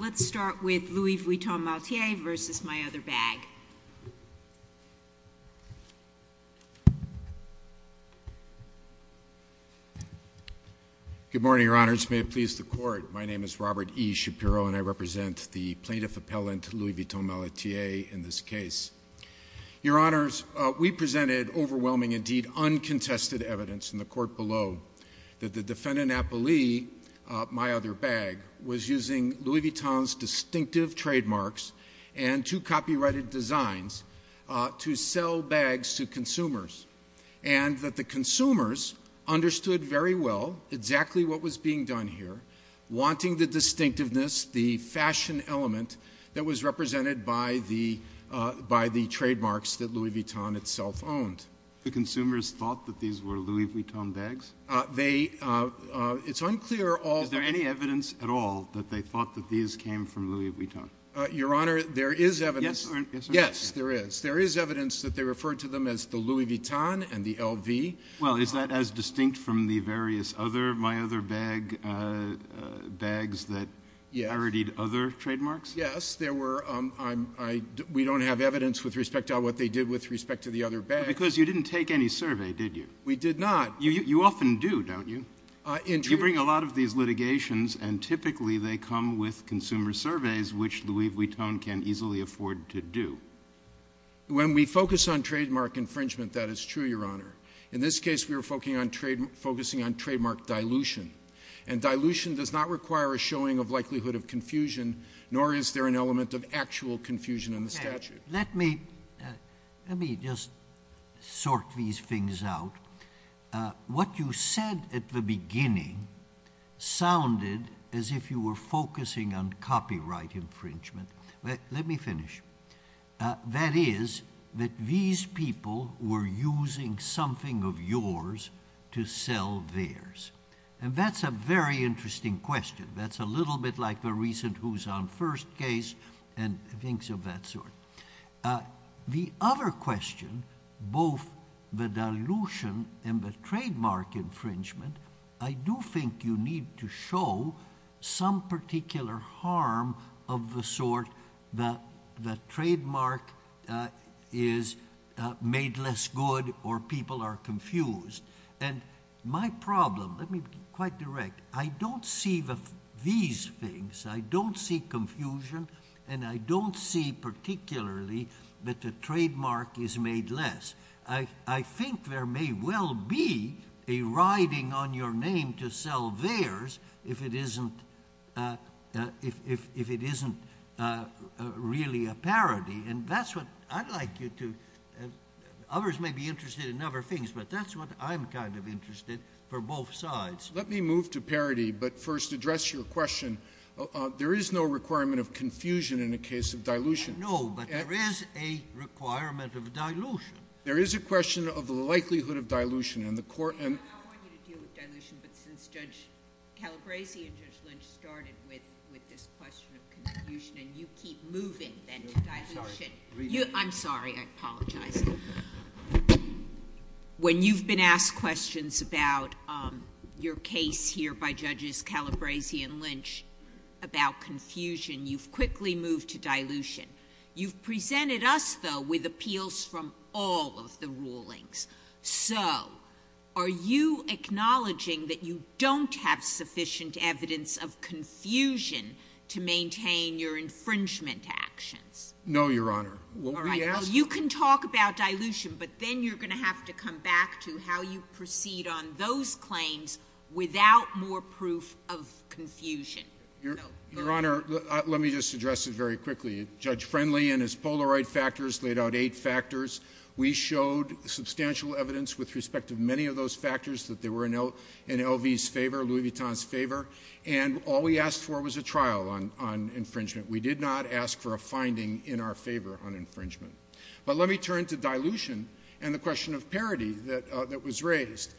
Let's start with Louis Vuitton Malletier v. My Other Bag. Good morning, Your Honors. May it please the Court, my name is Robert E. Shapiro and I represent the plaintiff appellant Louis Vuitton Malletier in this case. Your Honors, we presented overwhelming, indeed uncontested evidence in the Court below that the defendant appellee, My Other Bag, was using Louis Vuitton's distinctive trademarks and two copyrighted designs to sell bags to consumers and that the consumers understood very well exactly what was being done here, wanting the distinctiveness, the fashion element that was represented by the trademarks that Louis Vuitton itself owned. The consumers thought that these were Louis Vuitton bags? They, it's unclear at all. Is there any evidence at all that they thought that these came from Louis Vuitton? Your Honor, there is evidence. Yes, there is. There is evidence that they referred to them as the Louis Vuitton and the LV. Well, is that as distinct from the various other My Other Bag bags that inherited other trademarks? Yes, there were. We don't have evidence with respect to what they did with respect to the other bags. Because you didn't take any survey, did you? We did not. You often do, don't you? I do. You bring a lot of these litigations and typically they come with consumer surveys, which Louis Vuitton can easily afford to do. When we focus on trademark infringement, that is true, Your Honor. In this case, we were focusing on trademark dilution. And dilution does not require a showing of likelihood of confusion, nor is there an element of actual confusion in the statute. Let me just sort these things out. What you said at the beginning sounded as if you were focusing on copyright infringement. Let me finish. That is that these people were using something of yours to sell theirs. And that's a very interesting question. That's a little bit like the recent Houshan First case and things of that sort. The other question, both the dilution and the trademark infringement, I do think you need to show some particular harm of the sort that the trademark is made less good or people are confused. And my problem, let me be quite direct, I don't see these things. I don't see confusion and I don't see particularly that the trademark is made less. I think there may well be a riding on your name to sell theirs if it isn't really a parody. And that's what I'd like you to, others may be interested in other things, but that's what I'm kind of interested for both sides. Let me move to parody, but first address your question. There is no requirement of confusion in a case of dilution. No, but there is a requirement of dilution. There is a question of the likelihood of dilution. I want you to deal with dilution, but since Judge Calabresi and Judge Lynch started with this question of confusion and you keep moving then to dilution. I'm sorry, I apologize. When you've been asked questions about your case here by Judges Calabresi and Lynch about confusion, you've quickly moved to dilution. You've presented us though with appeals from all of the rulings. So are you acknowledging that you don't have sufficient evidence of confusion to maintain your infringement actions? No, Your Honor. You can talk about dilution, but then you're going to have to come back to how you proceed on those claims without more proof of confusion. Your Honor, let me just address it very quickly. Judge Friendly and his Polaroid factors laid out eight factors. We showed substantial evidence with respect to many of those factors that they were in LV's favor, Louis Vuitton's favor. And all we asked for was a trial on infringement. We did not ask for a finding in our favor on infringement. But let me turn to dilution and the question of parity that was raised.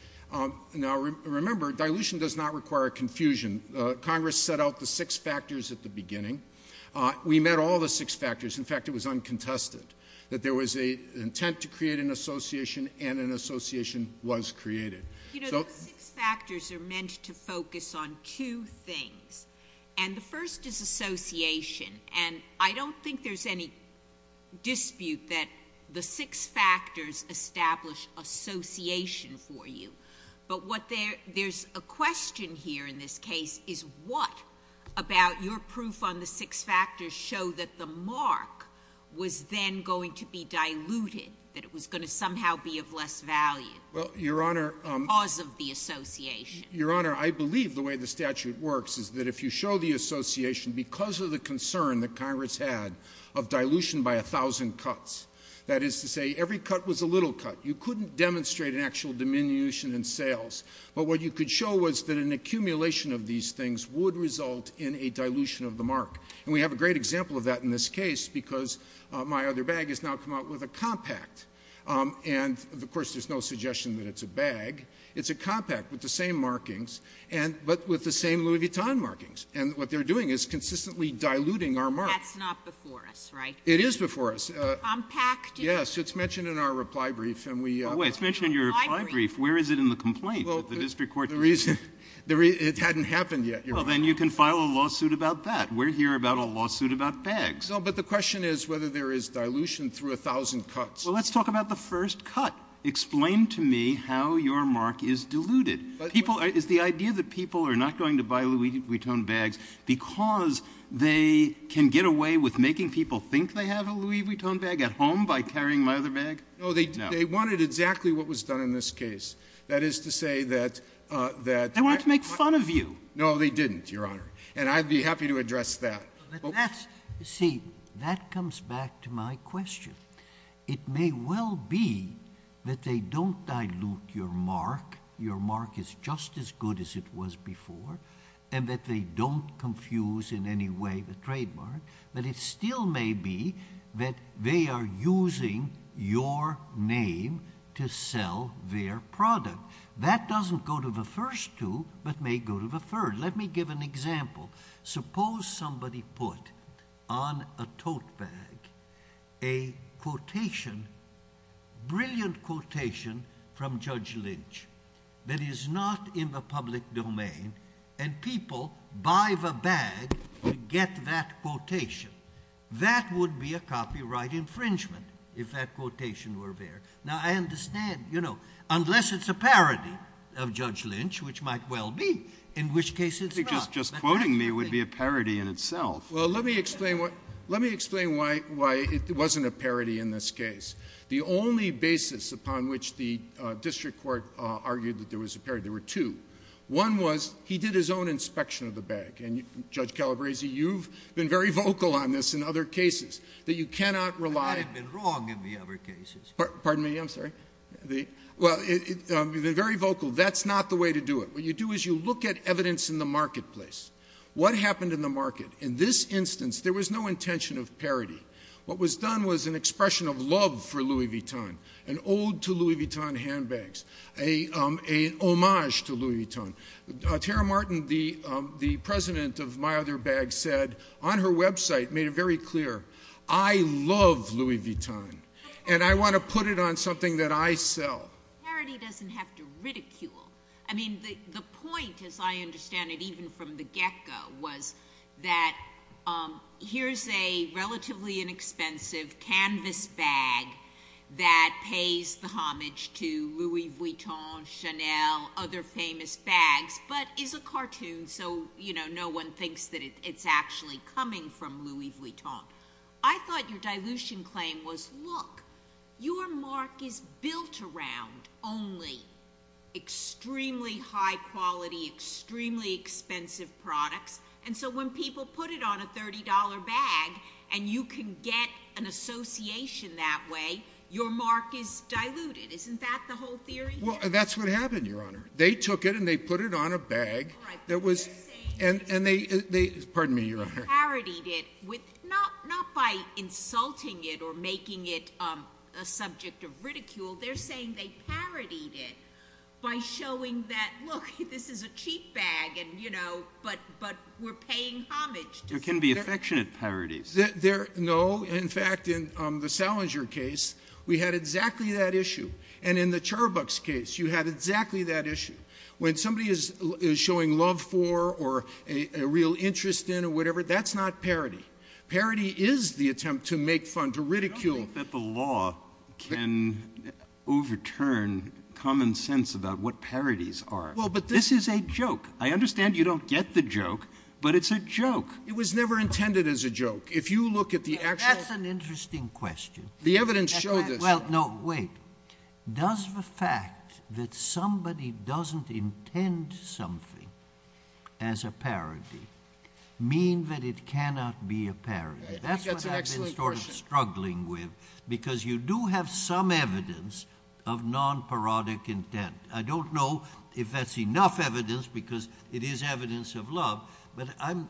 Now, remember, dilution does not require confusion. Congress set out the six factors at the beginning. We met all the six factors. In fact, it was uncontested that there was an intent to create an association and an association was created. You know, those six factors are meant to focus on two things. And the first is association. And I don't think there's any dispute that the six factors establish association for you. But what there's a question here in this case is what about your proof on the six factors show that the mark was then going to be diluted, that it was going to somehow be of less value because of the association? Your Honor, I believe the way the statute works is that if you show the association because of the concern that Congress had of dilution by a thousand cuts, that is to say every cut was a little cut, you couldn't demonstrate an actual diminution in sales. But what you could show was that an accumulation of these things would result in a dilution of the mark. And we have a great example of that in this case because my other bag has now come out with a compact. And of course, there's no suggestion that it's a bag. It's a compact with the same markings, but with the same Louis Vuitton markings. And what they're doing is consistently diluting our mark. That's not before us, right? It is before us. Compacted? Yes. It's mentioned in our reply brief. Oh, wait. It's mentioned in your reply brief. Where is it in the complaint that the district court did? Well, it hadn't happened yet, Your Honor. Well, then you can file a lawsuit about that. We're here about a lawsuit about bags. No, but the question is whether there is dilution through a thousand cuts. Well, let's talk about the first cut. Explain to me how your mark is diluted. Is the idea that people are not going to buy Louis Vuitton bags because they can get away with making people think they have a Louis Vuitton bag at home by carrying my other bag? No. They wanted exactly what was done in this case. That is to say that — They wanted to make fun of you. No, they didn't, Your Honor. And I'd be happy to address that. See, that comes back to my question. It may well be that they don't dilute your mark. Your mark is just as good as it was before. And that they don't confuse in any way the trademark. But it still may be that they are using your name to sell their product. That doesn't go to the first two but may go to the third. Let me give an example. Suppose somebody put on a tote bag a quotation — brilliant quotation — from Judge Lynch that is not in the public domain and people buy the bag to get that quotation. That would be a copyright infringement if that quotation were there. Now, I understand, you know, unless it's a parody of Judge Lynch, which might well be, in which case it's not. Just quoting me would be a parody in itself. Well, let me explain why it wasn't a parody in this case. The only basis upon which the district court argued that there was a parody, there were two. One was he did his own inspection of the bag. And, Judge Calabresi, you've been very vocal on this in other cases that you cannot rely — I haven't been wrong in the other cases. Pardon me, I'm sorry. Well, you've been very vocal. That's not the way to do it. What you do is you look at evidence in the marketplace. What happened in the market? In this instance, there was no intention of parody. What was done was an expression of love for Louis Vuitton, an ode to Louis Vuitton handbags, a homage to Louis Vuitton. Tara Martin, the president of My Other Bag, said on her website, made it very clear, I love Louis Vuitton and I want to put it on something that I sell. Parody doesn't have to ridicule. I mean, the point, as I understand it, even from the get-go was that here's a relatively inexpensive canvas bag that pays the homage to Louis Vuitton, Chanel, other famous bags, but is a cartoon. So, you know, no one thinks that it's actually coming from Louis Vuitton. I thought your dilution claim was, look, your mark is built around only extremely high quality, extremely expensive products. And so when people put it on a $30 bag and you can get an association that way, your mark is diluted. Isn't that the whole theory? Well, that's what happened, Your Honor. They took it and they put it on a bag that was, and they, pardon me, Your Honor. Parodied it with, not by insulting it or making it a subject of ridicule. They're saying they parodied it by showing that, look, this is a cheap bag and, you know, but we're paying homage. There can be affectionate parodies. There, no. In fact, in the Salinger case, we had exactly that issue. And in the Charbucks case, you had exactly that issue. When somebody is showing love for or a real interest in or whatever, that's not parody. Parody is the attempt to make fun, to ridicule. I don't think that the law can overturn common sense about what parodies are. Well, but this is a joke. I understand you don't get the joke, but it's a joke. It was never intended as a joke. If you look at the actual- That's an interesting question. The evidence showed this. No, wait. Does the fact that somebody doesn't intend something as a parody mean that it cannot be a parody? That's what I've been sort of struggling with because you do have some evidence of non-parodic intent. I don't know if that's enough evidence because it is evidence of love, but I'm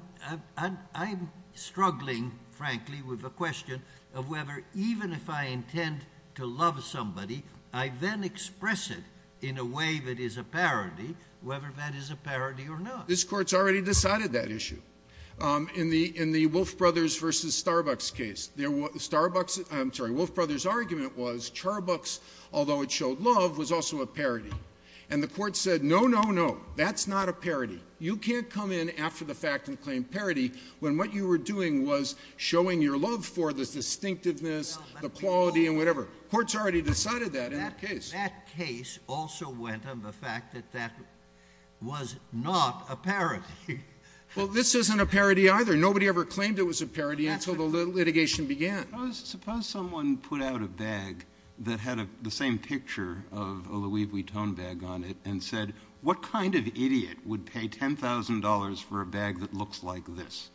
struggling, frankly, with the question of whether even if I intend to love somebody, I then express it in a way that is a parody, whether that is a parody or not. This Court's already decided that issue. In the Wolf Brothers v. Starbucks case, there was- Starbucks- I'm sorry. Wolf Brothers' argument was Charbucks, although it showed love, was also a parody. And the Court said, no, no, no. That's not a parody. You can't come in after the fact and claim parody when what you were doing was showing your love for the distinctiveness, the quality, and whatever. Court's already decided that in the case. That case also went on the fact that that was not a parody. Well, this isn't a parody either. Nobody ever claimed it was a parody until the litigation began. Suppose someone put out a bag that had the same picture of a Louis Vuitton bag on it and said, what kind of idiot would pay $10,000 for a bag that looks like this?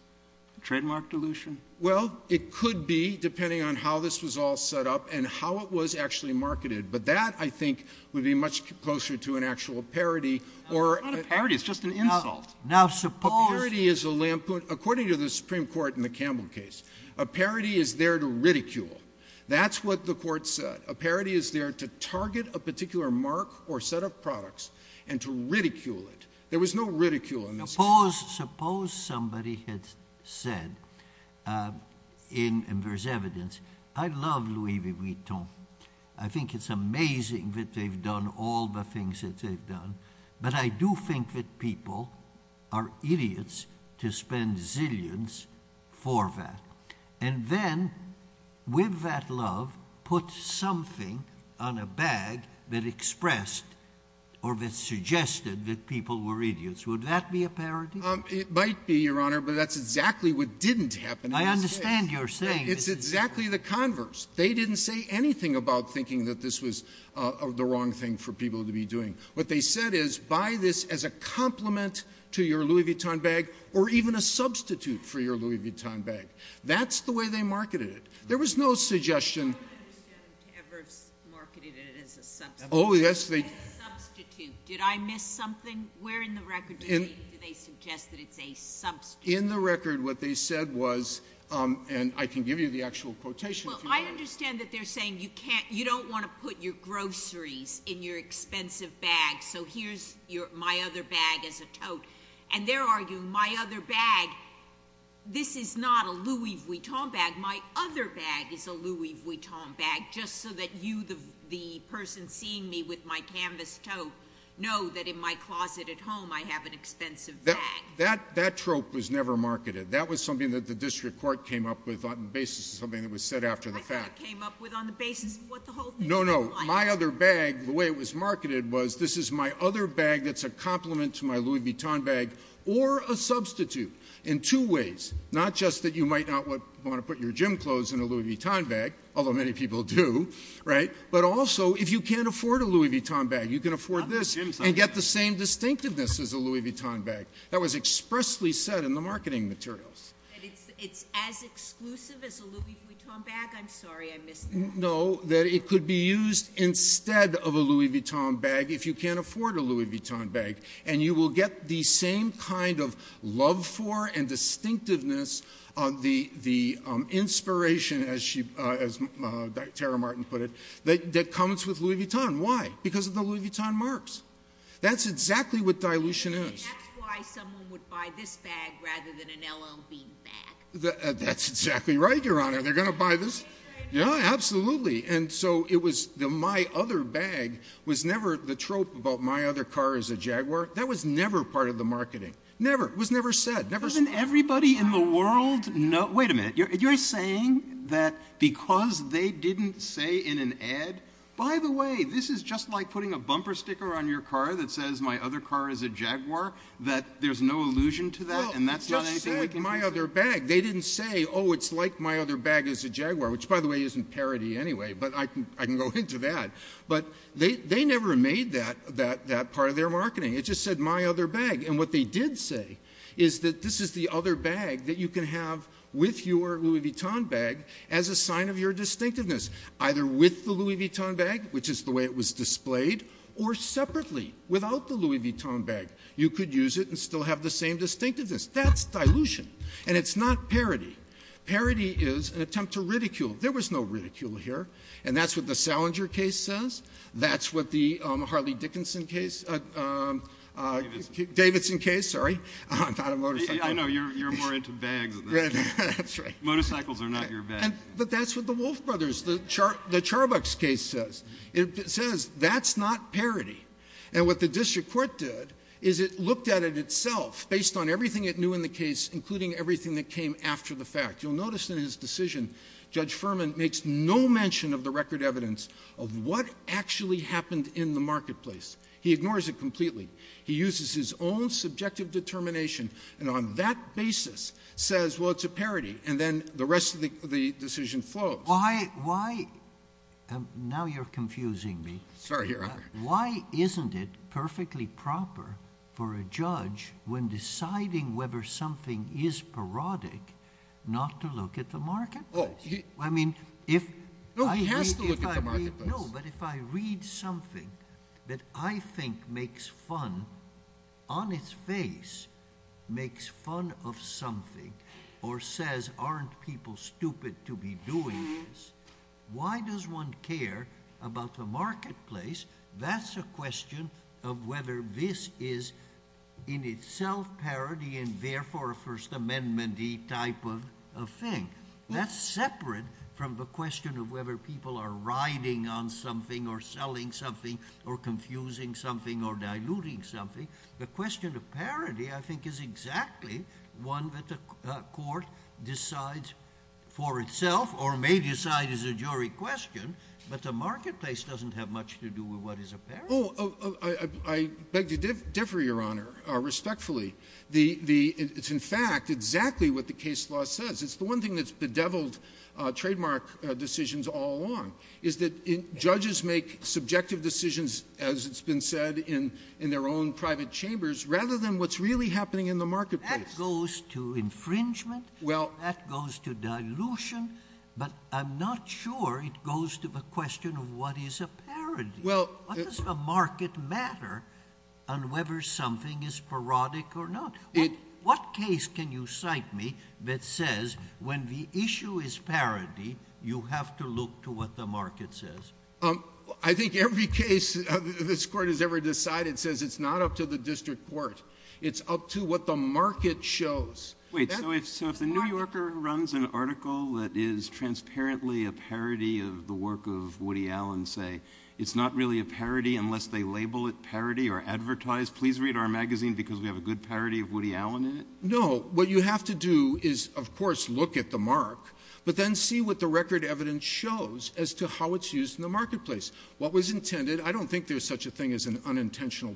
Trademark dilution? Well, it could be, depending on how this was all set up and how it was actually marketed. But that, I think, would be much closer to an actual parody or- It's not a parody. It's just an insult. Now, suppose- A parody is a lampoon. According to the Supreme Court in the Campbell case, a parody is there to ridicule. That's what the Court said. A parody is there to target a particular mark or set of products and to ridicule it. There was no ridicule in this case. Suppose somebody had said, and there's evidence, I love Louis Vuitton. I think it's amazing that they've done all the things that they've done. But I do think that people are idiots to spend zillions for that. And then, with that love, put something on a bag that expressed or that suggested that people were idiots. Would that be a parody? It might be, Your Honor, but that's exactly what didn't happen in this case. I understand you're saying- It's exactly the converse. They didn't say anything about thinking that this was the wrong thing for people to be doing. What they said is, buy this as a compliment to your Louis Vuitton bag or even a substitute for your Louis Vuitton bag. That's the way they marketed it. There was no suggestion- I don't understand who ever marketed it as a substitute. Oh, yes. As a substitute. Did I miss something? Where in the record do they suggest that it's a substitute? In the record, what they said was, and I can give you the actual quotation- Well, I understand that they're saying you don't want to put your groceries in your expensive bag, so here's my other bag as a tote. And they're arguing, my other bag, this is not a Louis Vuitton bag, my other bag is a Louis Vuitton bag, just so that you, the person seeing me with my canvas tote, know that in my closet at home, I have an expensive bag. That trope was never marketed. That was something that the district court came up with on the basis of something that was said after the fact. I thought it came up with on the basis of what the whole thing was like. No, no. My other bag, the way it was marketed was, this is my other bag that's a complement to my Louis Vuitton bag, or a substitute in two ways. Not just that you might not want to put your gym clothes in a Louis Vuitton bag, although many people do, right? But also, if you can't afford a Louis Vuitton bag, you can afford this and get the same distinctiveness as a Louis Vuitton bag. That was expressly said in the marketing materials. That it's as exclusive as a Louis Vuitton bag? I'm sorry, I missed that. No, that it could be used instead of a Louis Vuitton bag if you can't afford a Louis Vuitton bag. And you will get the same kind of love for and distinctiveness of the inspiration, as Tara Martin put it, that comes with Louis Vuitton. Why? Because of the Louis Vuitton marks. That's exactly what dilution is. That's why someone would buy this bag rather than an LL Bean bag. That's exactly right, Your Honor. They're going to buy this. Yeah, absolutely. And so it was the, my other bag, was never the trope about my other car is a Jaguar. That was never part of the marketing. Never. It was never said. Hasn't everybody in the world known? Wait a minute. You're saying that because they didn't say in an ad, by the way, this is just like putting a bumper sticker on your car that says my other car is a Jaguar. That there's no allusion to that? And that's not anything we can do? They just said my other bag. They didn't say, oh, it's like my other bag is a Jaguar. Which, by the way, isn't parody anyway. But I can go into that. But they never made that part of their marketing. It just said my other bag. And what they did say is that this is the other bag that you can have with your Louis Vuitton bag as a sign of your distinctiveness, either with the Louis Vuitton bag, which is the way it was displayed, or separately without the Louis Vuitton bag. You could use it and still have the same distinctiveness. That's dilution. And it's not parody. Parody is an attempt to ridicule. There was no ridicule here. And that's what the Salinger case says. That's what the Harley Dickinson case, Davidson case, sorry. I'm not a motorcyclist. I know. You're more into bags than that. That's right. Motorcycles are not your bag. But that's what the Wolf Brothers, the Charbucks case says. It says that's not parody. And what the district court did is it looked at it itself based on everything it knew in the case, including everything that came after the fact. You'll notice in his decision, Judge Furman makes no mention of the record evidence of what actually happened in the marketplace. He ignores it completely. He uses his own subjective determination. And on that basis, says, well, it's a parody. And then the rest of the decision flows. Why, now you're confusing me. Sorry, Your Honor. Why isn't it perfectly proper for a judge, when deciding whether something is parodic, not to look at the marketplace? Oh, he. I mean, if. No, he has to look at the marketplace. No, but if I read something that I think makes fun on its face, makes fun of something, or says, aren't people stupid to be doing this, why does one care about the marketplace? That's a question of whether this is in itself parody, and therefore a First Amendment-y type of thing. That's separate from the question of whether people are riding on something, or selling something, or confusing something, or diluting something. The question of parody, I think, is exactly one that the court decides for itself, or may decide as a jury question. But the marketplace doesn't have much to do with what is a parody. Oh, I beg to differ, Your Honor, respectfully. The — it's, in fact, exactly what the case law says. It's the one thing that's bedeviled trademark decisions all along, is that judges make subjective decisions, as it's been said, in their own private chambers, rather than what's really happening in the marketplace. That goes to infringement. Well — That goes to dilution. But I'm not sure it goes to the question of what is a parody. Well — What does the market matter on whether something is parodic or not? What case can you cite me that says, when the issue is parody, you have to look to what the market says? I think every case this Court has ever decided says it's not up to the district court. It's up to what the market shows. Wait, so if the New Yorker runs an article that is transparently a parody of the work of Woody Allen, say it's not really a parody unless they label it parody or advertise, please read our magazine because we have a good parody of Woody Allen in it? What you have to do is, of course, look at the mark, but then see what the record evidence shows as to how it's used in the marketplace. What was intended — I don't think there's such a thing as an unintentional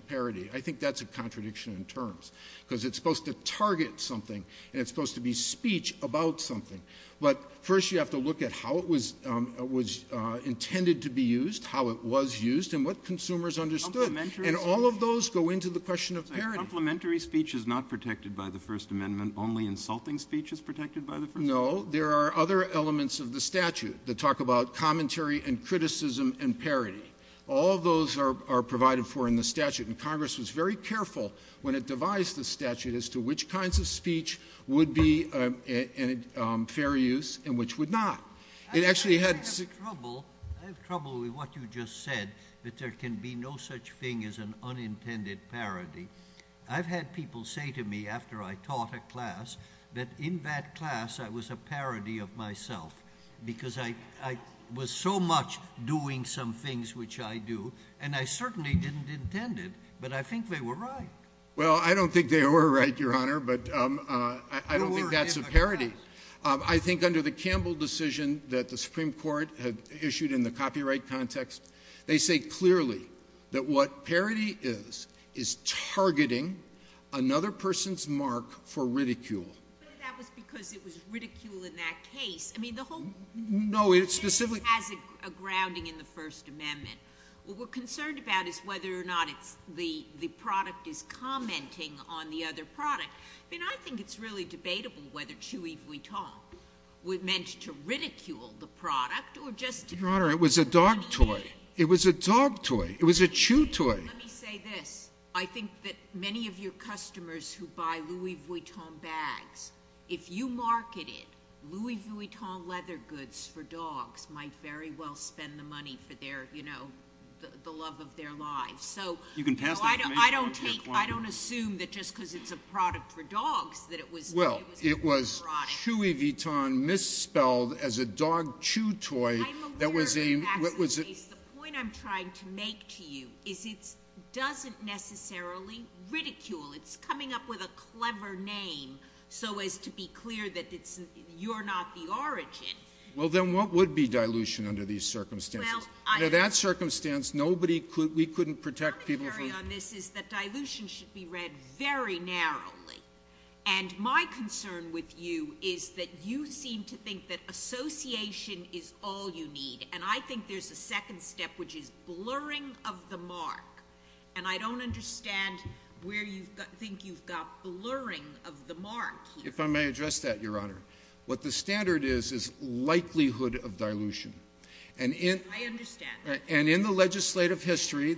I think that's a contradiction in terms, because it's supposed to target something, and it's supposed to be speech about something. But first you have to look at how it was intended to be used, how it was used, and what consumers understood. Complimentary speech — And all of those go into the question of parody. Complimentary speech is not protected by the First Amendment. Only insulting speech is protected by the First Amendment. No. There are other elements of the statute that talk about commentary and criticism and parody. All those are provided for in the statute, and Congress was very careful when it which kinds of speech would be fair use and which would not. It actually had — I have trouble with what you just said, that there can be no such thing as an unintended parody. I've had people say to me, after I taught a class, that in that class I was a parody of myself because I was so much doing some things which I do, and I certainly didn't intend it, but I think they were right. Well, I don't think they were right, Your Honor, but I don't think that's a parody. I think under the Campbell decision that the Supreme Court had issued in the copyright context, they say clearly that what parody is is targeting another person's mark for ridicule. But that was because it was ridicule in that case. I mean, the whole — No, it specifically —— has a grounding in the First Amendment. What we're concerned about is whether or not it's — the product is commenting on the other product. I mean, I think it's really debatable whether Chewy Vuitton were meant to ridicule the product or just — Your Honor, it was a dog toy. It was a dog toy. It was a chew toy. Let me say this. I think that many of your customers who buy Louis Vuitton bags, if you market it, Louis Vuitton leather goods for dogs might very well spend the money for their — you know, the love of their lives. So — You can pass that to me. I don't take — I don't assume that just because it's a product for dogs that it was — Well, it was Chewy Vuitton misspelled as a dog chew toy that was a — I'm aware, Your Honor, the point I'm trying to make to you is it doesn't necessarily ridicule. It's coming up with a clever name so as to be clear that it's — you're not the origin. Well, then what would be dilution under these circumstances? Under that circumstance, nobody could — we couldn't protect people from — Let me carry on. This is that dilution should be read very narrowly. And my concern with you is that you seem to think that association is all you need. And I think there's a second step, which is blurring of the mark. And I don't understand where you think you've got blurring of the mark. If I may address that, Your Honor, what the standard is, is likelihood of dilution. And in — I understand. And in the legislative history,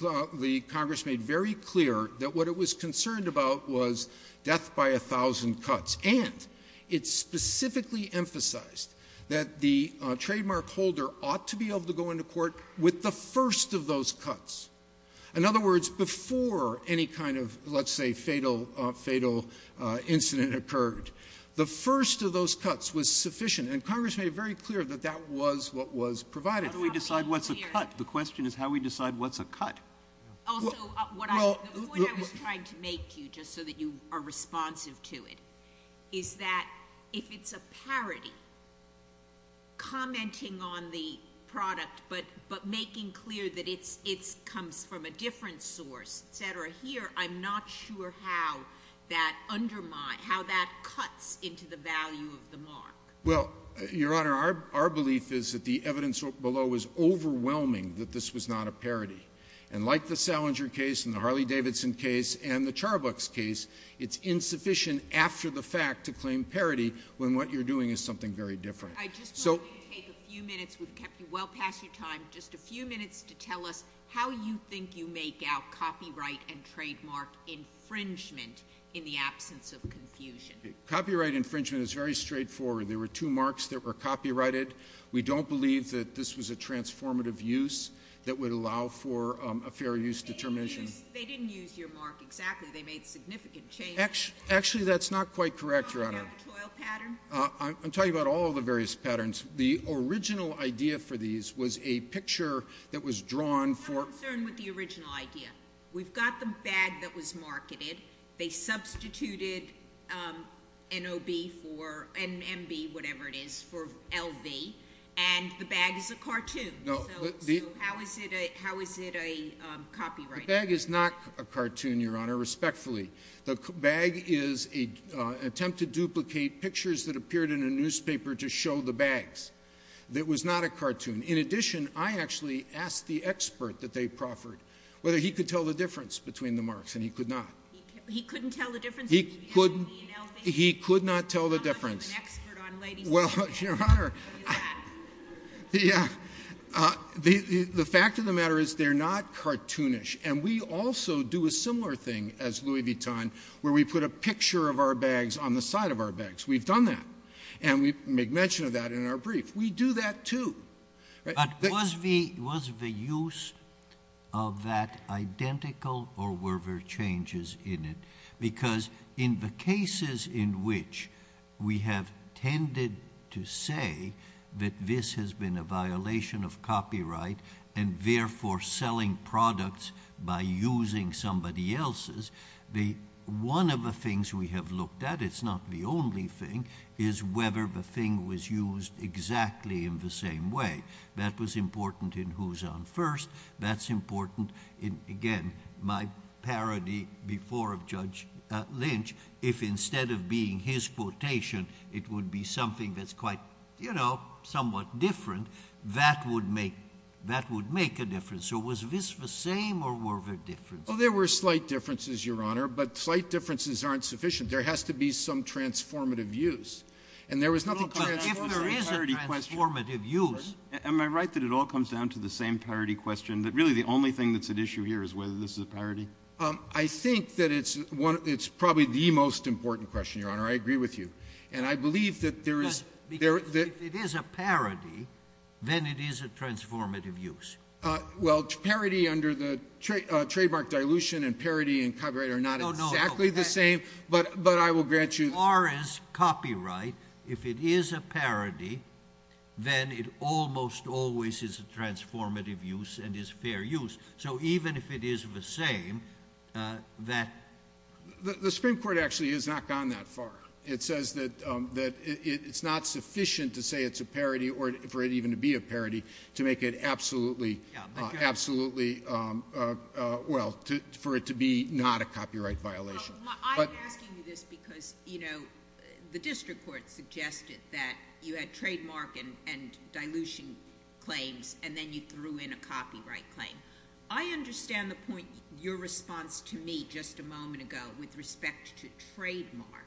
the Congress made very clear that what it was concerned about was death by a thousand cuts. And it specifically emphasized that the trademark holder ought to be able to go into court with the first of those cuts. In other words, before any kind of, let's say, fatal incident occurred, the first of those cuts was sufficient. And Congress made it very clear that that was what was provided. How do we decide what's a cut? The question is how we decide what's a cut. Also, the point I was trying to make to you, just so that you are responsive to it, is that if it's a parity, commenting on the product but making clear that it comes from a different source, et cetera, here, I'm not sure how that undermines — how that cuts into the value of the mark. Well, Your Honor, our belief is that the evidence below is overwhelming that this was not a parity. And like the Salinger case and the Harley-Davidson case and the Charbucks case, it's insufficient after the fact to claim parity when what you're doing is something very different. I just want you to take a few minutes. We've kept you well past your time. Just a few minutes to tell us how you think you make out copyright and trademark infringement in the absence of confusion. Copyright infringement is very straightforward. There were two marks that were copyrighted. We don't believe that this was a transformative use that would allow for a fair use determination. They didn't use your mark exactly. They made significant changes. Actually, that's not quite correct, Your Honor. Do you have a toil pattern? I'm talking about all the various patterns. The original idea for these was a picture that was drawn for — I'm not concerned with the original idea. We've got the bag that was marketed. They substituted N.O.B. for — N.M.B., whatever it is, for L.V., and the bag is a cartoon. So how is it a copyright? The bag is not a cartoon, Your Honor, respectfully. The bag is an attempt to duplicate pictures that appeared in a newspaper to show the bags. It was not a cartoon. In addition, I actually asked the expert that they proffered whether he could tell the difference between the marks, and he could not. He couldn't tell the difference between L.V. and L.V.? He could not tell the difference. I'm not an expert on ladies' bags. Well, Your Honor, the fact of the matter is they're not cartoonish, and we also do a similar thing as Louis Vuitton, where we put a picture of our bags on the side of our bags. We've done that, and we make mention of that in our brief. We do that, too. But was the use of that identical, or were there changes in it? Because in the cases in which we have tended to say that this has been a violation of copyright, and therefore selling products by using somebody else's, one of the things we have looked at, it's not the only thing, is whether the thing was used exactly in the same way. That was important in Who's On First. That's important in, again, my parody before of Judge Lynch. If instead of being his quotation, it would be something that's quite, you know, somewhat different, that would make a difference. So was this the same, or were there differences? Well, there were slight differences, Your Honor, but slight differences aren't sufficient. There has to be some transformative use. And there was nothing transformative. There is a transformative use. Am I right that it all comes down to the same parody question, that really the only thing that's at issue here is whether this is a parody? I think that it's probably the most important question, Your Honor. I agree with you. And I believe that there is— Because if it is a parody, then it is a transformative use. Well, parody under the trademark dilution and parody and copyright are not exactly the same, but I will grant you— As far as copyright, if it is a parody, then it almost always is a transformative use and is fair use. So even if it is the same, that— The Supreme Court actually has not gone that far. It says that it's not sufficient to say it's a parody or for it even to be a parody to make it absolutely— Yeah, but you— Absolutely, well, for it to be not a copyright violation. I'm asking you this because the district court suggested that you had trademark and dilution claims and then you threw in a copyright claim. I understand the point, your response to me just a moment ago with respect to trademark,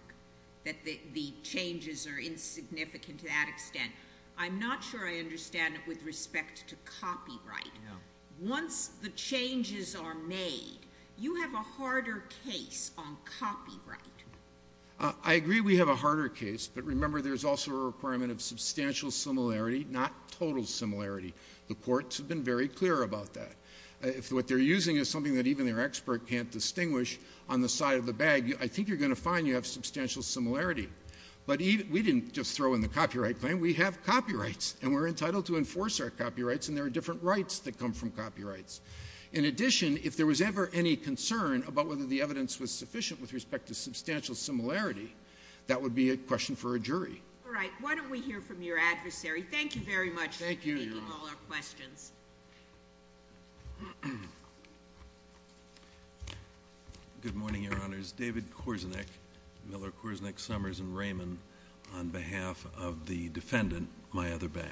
that the changes are insignificant to that extent. I'm not sure I understand it with respect to copyright. Once the changes are made, you have a harder case on copyright. I agree we have a harder case, but remember there's also a requirement of substantial similarity, not total similarity. The courts have been very clear about that. What they're using is something that even their expert can't distinguish on the side of the bag. I think you're going to find you have substantial similarity. But we didn't just throw in the copyright claim. We have copyrights and we're entitled to enforce our copyrights and there are different rights that come from copyrights. In addition, if there was ever any concern about whether the evidence was sufficient with respect to substantial similarity, that would be a question for a jury. All right. Why don't we hear from your adversary? Thank you very much for taking all our questions. Thank you, Your Honor. Good morning, Your Honors. David Korzenich, Miller, Korzenich, Summers, and Raymond, on behalf of the defendant, my other bag.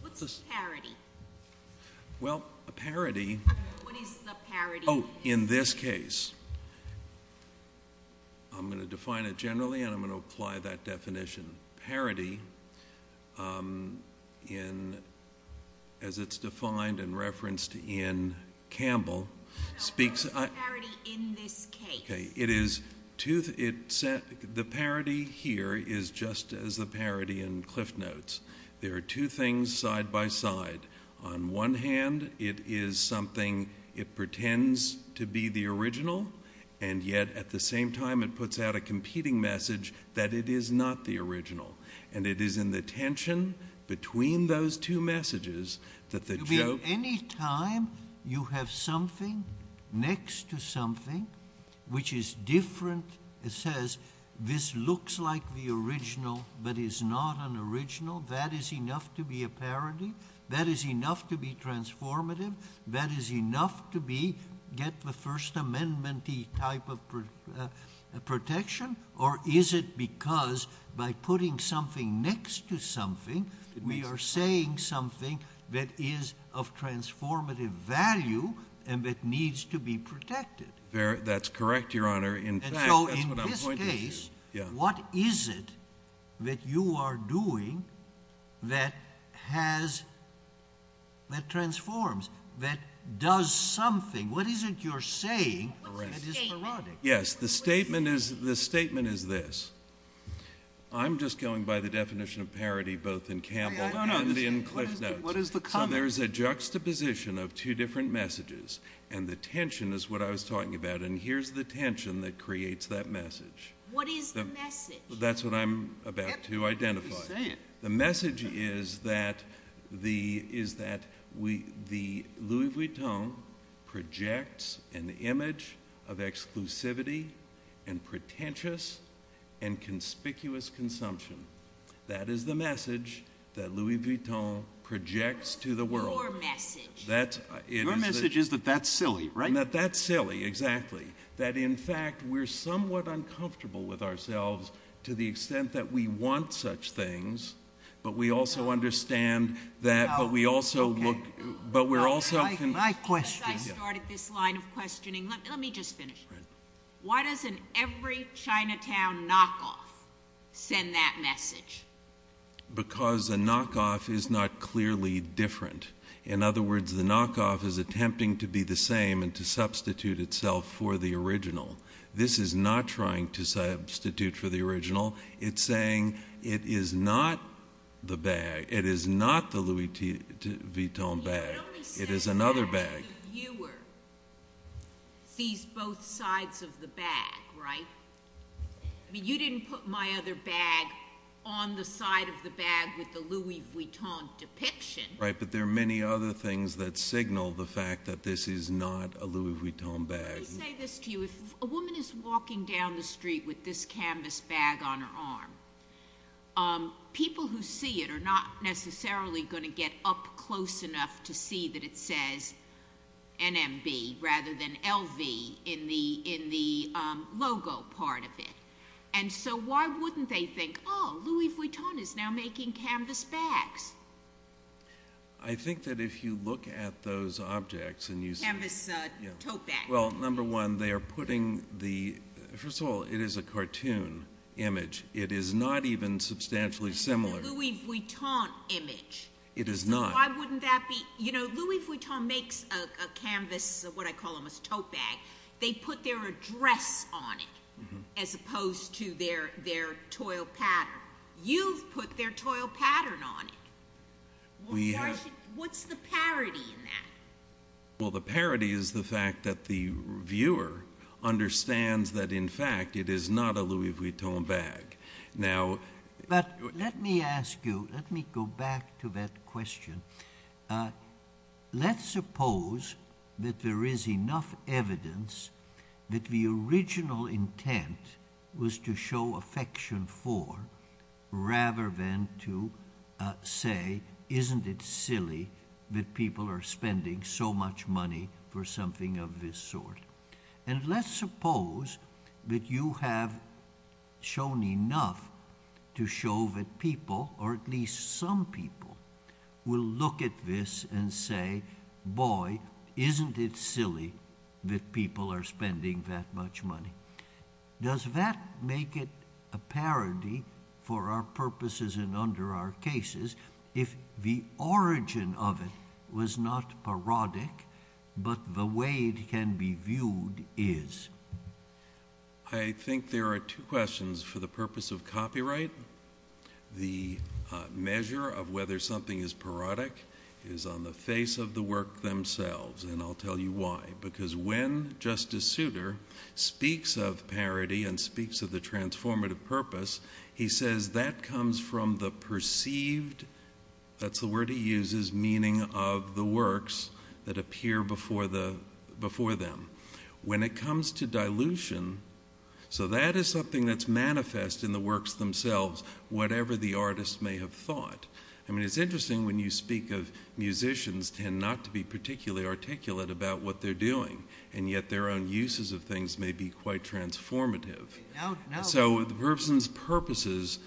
What's a parity? Well, a parity— What is the parity? Oh, in this case. I'm going to define it generally and I'm going to apply that definition. Parity, as it's defined and referenced in Campbell, speaks— No, what is the parity in this case? Okay. The parity here is just as the parity in Cliftnotes. There are two things side by side. On one hand, it is something, it pretends to be the original and yet at the same time, it puts out a competing message that it is not the original. And it is in the tension between those two messages that the joke— You mean any time you have something next to something which is different, it says, this looks like the original but is not an original, that is enough to be a parity? That is enough to be transformative? That is enough to get the First Amendment-y type of protection? Or is it because by putting something next to something, we are saying something that is of transformative value and that needs to be protected? That's correct, Your Honor. So in this case, what is it that you are doing that transforms, that does something? What is it you're saying that is parodic? Yes, the statement is this. I'm just going by the definition of parity both in Campbell and in Cliftnotes. What is the comment? So there is a juxtaposition of two different messages and the tension is what I was talking about. Here's the tension that creates that message. What is the message? That's what I'm about to identify. The message is that Louis Vuitton projects an image of exclusivity and pretentious and conspicuous consumption. That is the message that Louis Vuitton projects to the world. Your message. Your message is that that's silly, right? That's silly, exactly. That in fact, we're somewhat uncomfortable with ourselves to the extent that we want such things, but we also understand that, but we also look, but we're also... My question... I started this line of questioning. Let me just finish. Why doesn't every Chinatown knockoff send that message? Because a knockoff is not clearly different. In other words, the knockoff is attempting to be the same and to substitute itself for the original. This is not trying to substitute for the original. It's saying it is not the bag. It is not the Louis Vuitton bag. It is another bag. It only says that the viewer sees both sides of the bag, right? I mean, you didn't put my other bag on the side of the bag with the Louis Vuitton depiction. But there are many other things that signal the fact that this is not a Louis Vuitton bag. Let me say this to you. If a woman is walking down the street with this canvas bag on her arm, people who see it are not necessarily going to get up close enough to see that it says NMB rather than LV in the logo part of it. So why wouldn't they think, oh, Louis Vuitton is now making canvas bags? I think that if you look at those objects and you see... Canvas tote bag. Well, number one, they are putting the... First of all, it is a cartoon image. It is not even substantially similar. It's a Louis Vuitton image. It is not. So why wouldn't that be... You know, Louis Vuitton makes a canvas, what I call them, a tote bag. They put their address on it as opposed to their toil pattern. You've put their toil pattern on it. We have... What's the parody in that? Well, the parody is the fact that the viewer understands that, in fact, it is not a Louis Vuitton bag. Now... But let me ask you, let me go back to that question. Let's suppose that there is enough evidence that the original intent was to show affection for rather than to say, isn't it silly that people are spending so much money for something of this sort? And let's suppose that you have shown enough to show that people, or at least some people, will look at this and say, boy, isn't it silly that people are spending that much money? Does that make it a parody for our purposes and under our cases if the origin of it was not parodic, but the way it can be viewed is? I think there are two questions. For the purpose of copyright, the measure of whether something is parodic is on the face of the work themselves. And I'll tell you why. Because when Justice Souter speaks of parody and speaks of the transformative purpose, he says that comes from the perceived, that's the word he uses, meaning of the works that appear before them. When it comes to dilution, so that is something that's manifest in the works themselves, whatever the artist may have thought. I mean, it's interesting when you speak of musicians tend not to be particularly articulate about what they're doing. And yet their own uses of things may be quite transformative. So the person's purposes,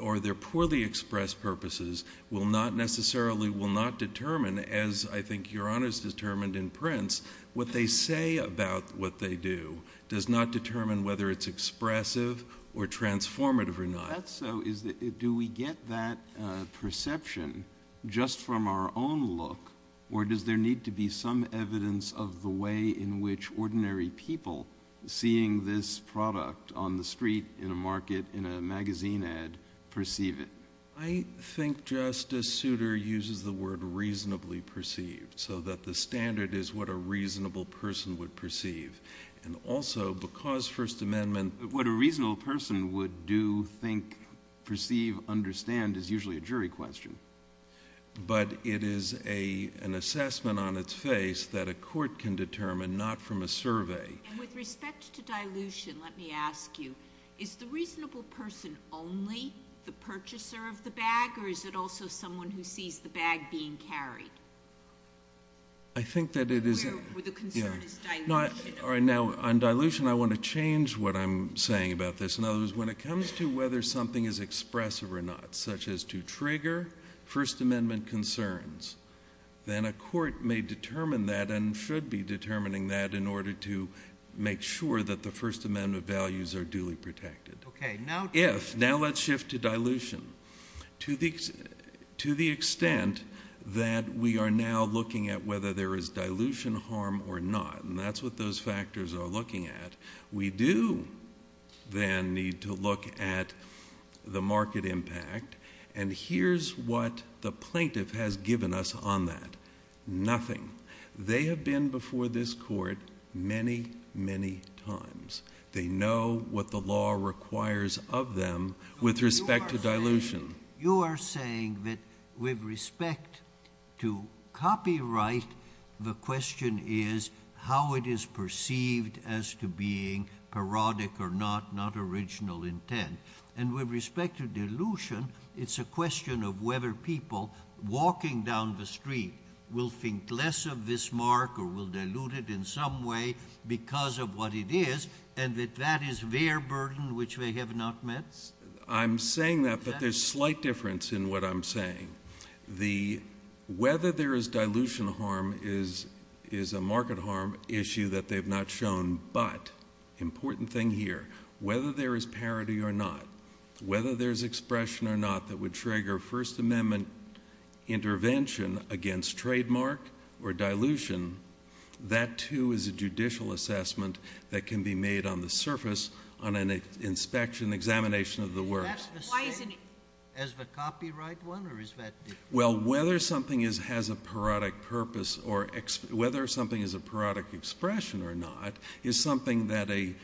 or their poorly expressed purposes, will not necessarily, will not determine, as I think Your Honor's determined in Prince, what they say about what they do does not determine whether it's expressive or transformative or not. Is that so? Do we get that perception just from our own look? Or does there need to be some evidence of the way in which ordinary people seeing this product on the street, in a market, in a magazine ad, perceive it? I think Justice Souter uses the word reasonably perceived, so that the standard is what a reasonable person would perceive. And also, because First Amendment— What a reasonable person would do, think, perceive, understand is usually a jury question. But it is an assessment on its face that a court can determine, not from a survey. And with respect to dilution, let me ask you, is the reasonable person only the purchaser of the bag, or is it also someone who sees the bag being carried? I think that it is— Where the concern is dilution. All right, now, on dilution, I want to change what I'm saying about this. In other words, when it comes to whether something is expressive or not, such as to trigger, First Amendment concerns, then a court may determine that and should be determining that in order to make sure that the First Amendment values are duly protected. Okay, now— If— Now let's shift to dilution. To the extent that we are now looking at whether there is dilution harm or not, and that's what those factors are looking at, we do then need to look at the market impact. And here's what the plaintiff has given us on that. Nothing. They have been before this Court many, many times. They know what the law requires of them with respect to dilution. You are saying that with respect to copyright, the question is how it is perceived as to being parodic or not, not original intent. And with respect to dilution, it's a question of whether people walking down the street will think less of this mark or will dilute it in some way because of what it is, and that that is their burden which they have not met? I'm saying that, but there's slight difference in what I'm saying. The whether there is dilution harm is a market harm issue that they've not shown. But, important thing here, whether there is parity or not, whether there's expression or not that would trigger First Amendment intervention against trademark or dilution, that, too, is a judicial assessment that can be made on the surface on an inspection, examination of the words. Is that the same as the copyright one or is that different? Well, whether something has a parodic purpose or whether something is a parodic expression or not is something that a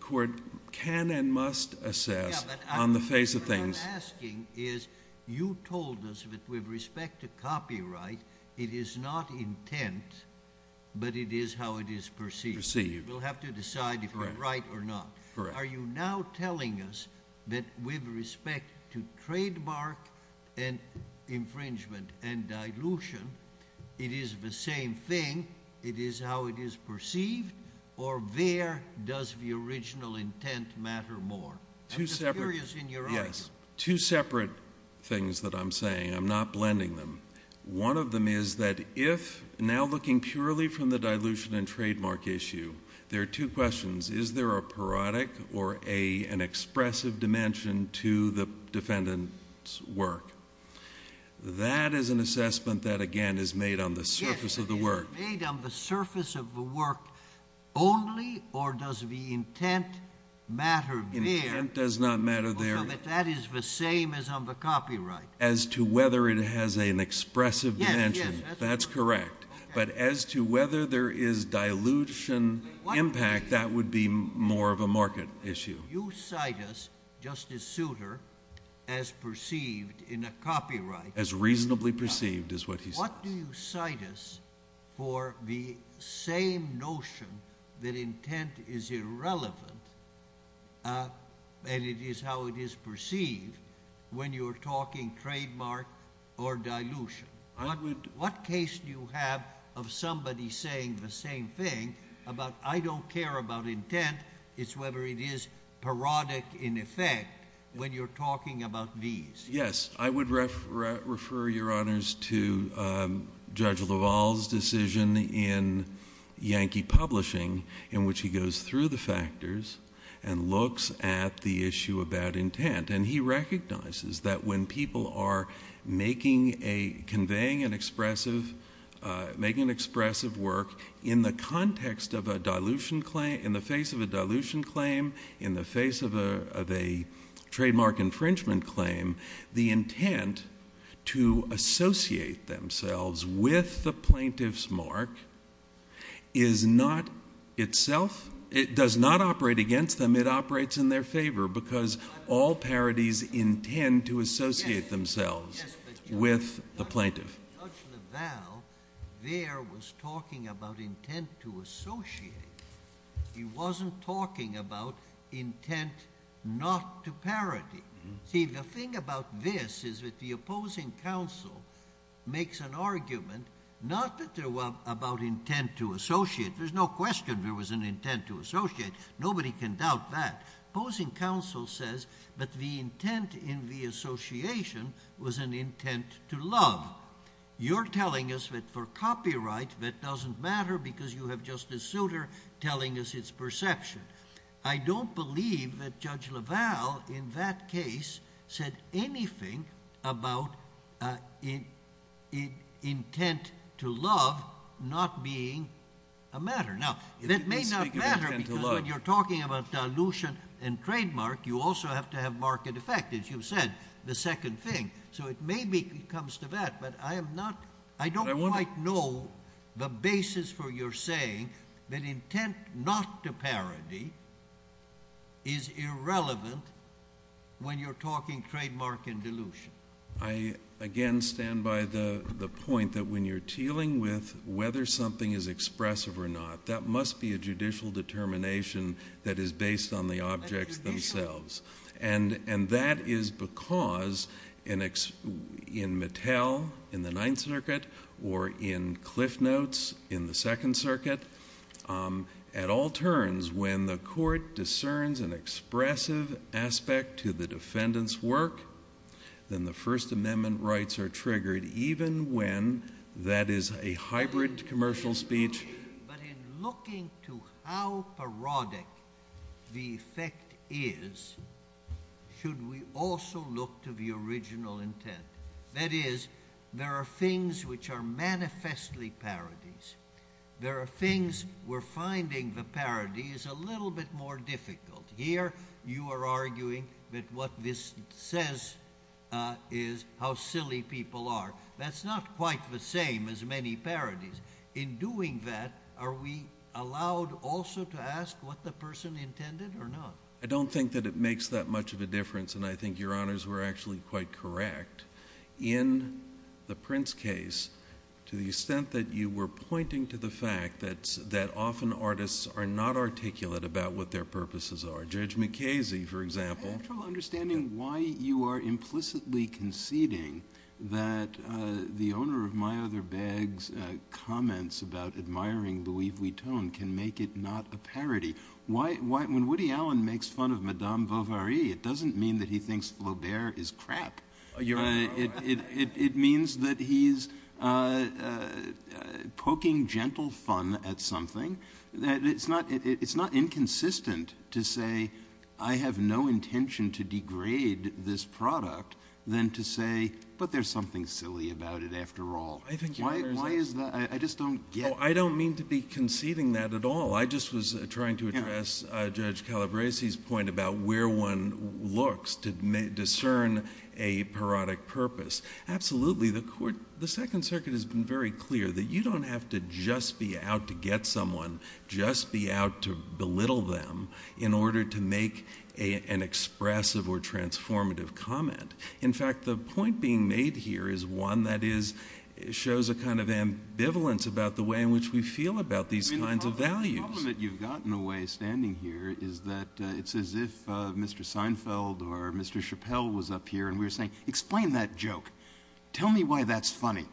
court can and must assess on the face of things. Yeah, but what I'm asking is, you told us that with respect to copyright, it is not intent, but it is how it is perceived. Perceived. We'll have to decide if we're right or not. Correct. Are you now telling us that with respect to trademark and infringement and dilution, it is the same thing? It is how it is perceived or there does the original intent matter more? I'm just curious in your argument. Yes. Two separate things that I'm saying. I'm not blending them. One of them is that if, now looking purely from the dilution and trademark issue, there are two questions. Is there a parodic or an expressive dimension to the defendant's work? That is an assessment that, again, is made on the surface of the work. Yes, it is made on the surface of the work only, or does the intent matter there? Intent does not matter there. So that is the same as on the copyright. As to whether it has an expressive dimension. Yes, yes. That's correct. But as to whether there is dilution impact, that would be more of a market issue. You cite us, Justice Souter, as perceived in a copyright. As reasonably perceived is what he says. What do you cite us for the same notion that intent is irrelevant and it is how it is perceived when you're talking trademark or dilution? What case do you have of somebody saying the same thing about, I don't care about intent, it's whether it is parodic in effect when you're talking about these? Yes. I would refer, Your Honors, to Judge LaValle's decision in Yankee Publishing in which he goes through the factors and looks at the issue about intent. And he recognizes that when people are making a, conveying an expressive, making an expressive work in the context of a dilution claim, in the face of a dilution claim, in the face of a trademark infringement claim, the intent to associate themselves with the plaintiff's mark is not itself, it does not operate against them, it operates in their favor because all parodies intend to associate themselves with the plaintiff. Judge LaValle there was talking about intent to associate. He wasn't talking about intent not to parody. See, the thing about this is that the opposing counsel makes an argument, not that there was about intent to associate. There's no question there was an intent to associate. Nobody can doubt that. Opposing counsel says that the intent in the association was an intent to love. You're telling us that for copyright that doesn't matter because you have Justice Souter telling us its perception. I don't believe that Judge LaValle in that case said anything about intent to love not being a matter. Now, that may not matter because when you're talking about dilution and trademark, you also have to have market effect, as you've said, the second thing. It maybe comes to that, but I don't quite know the basis for your saying that intent not to parody is irrelevant when you're talking trademark and dilution. I, again, stand by the point that when you're dealing with whether something is expressive or not, that must be a judicial determination that is based on the objects themselves. And that is because in Mattel in the Ninth Circuit or in Cliff Notes in the Second Circuit, at all turns when the court discerns an expressive aspect to the defendant's work, then the First Amendment rights are triggered even when that is a hybrid commercial speech. But in looking to how parodic the effect is, should we also look to the original intent? That is, there are things which are manifestly parodies. There are things we're finding the parody is a little bit more difficult. Here, you are arguing that what this says is how silly people are. That's not quite the same as many parodies. In doing that, are we allowed also to ask what the person intended or not? I don't think that it makes that much of a difference, and I think your honors were actually quite correct. In the Prince case, to the extent that you were pointing to the fact that often artists are not articulate about what their purposes are. Judge McCasey, for example. I have trouble understanding why you are implicitly conceding that the owner of my bag's comments about admiring Louis Vuitton can make it not a parody. When Woody Allen makes fun of Madame Bovary, it doesn't mean that he thinks Flaubert is crap. You're right. It means that he's poking gentle fun at something. It's not inconsistent to say, I have no intention to degrade this product, than to say, but there's something silly about it after all. Why is that? I just don't get it. I don't mean to be conceding that at all. I just was trying to address Judge Calabresi's point about where one looks to discern a parodic purpose. Absolutely, the Second Circuit has been very clear that you don't have to just be out to get someone. Just be out to belittle them in order to make an expressive or transformative comment. In fact, the point being made here is one that shows a kind of ambivalence about the way in which we feel about these kinds of values. The problem that you've got in a way standing here is that it's as if Mr. Seinfeld or Mr. Chappelle was up here and we were saying, explain that joke. Tell me why that's funny.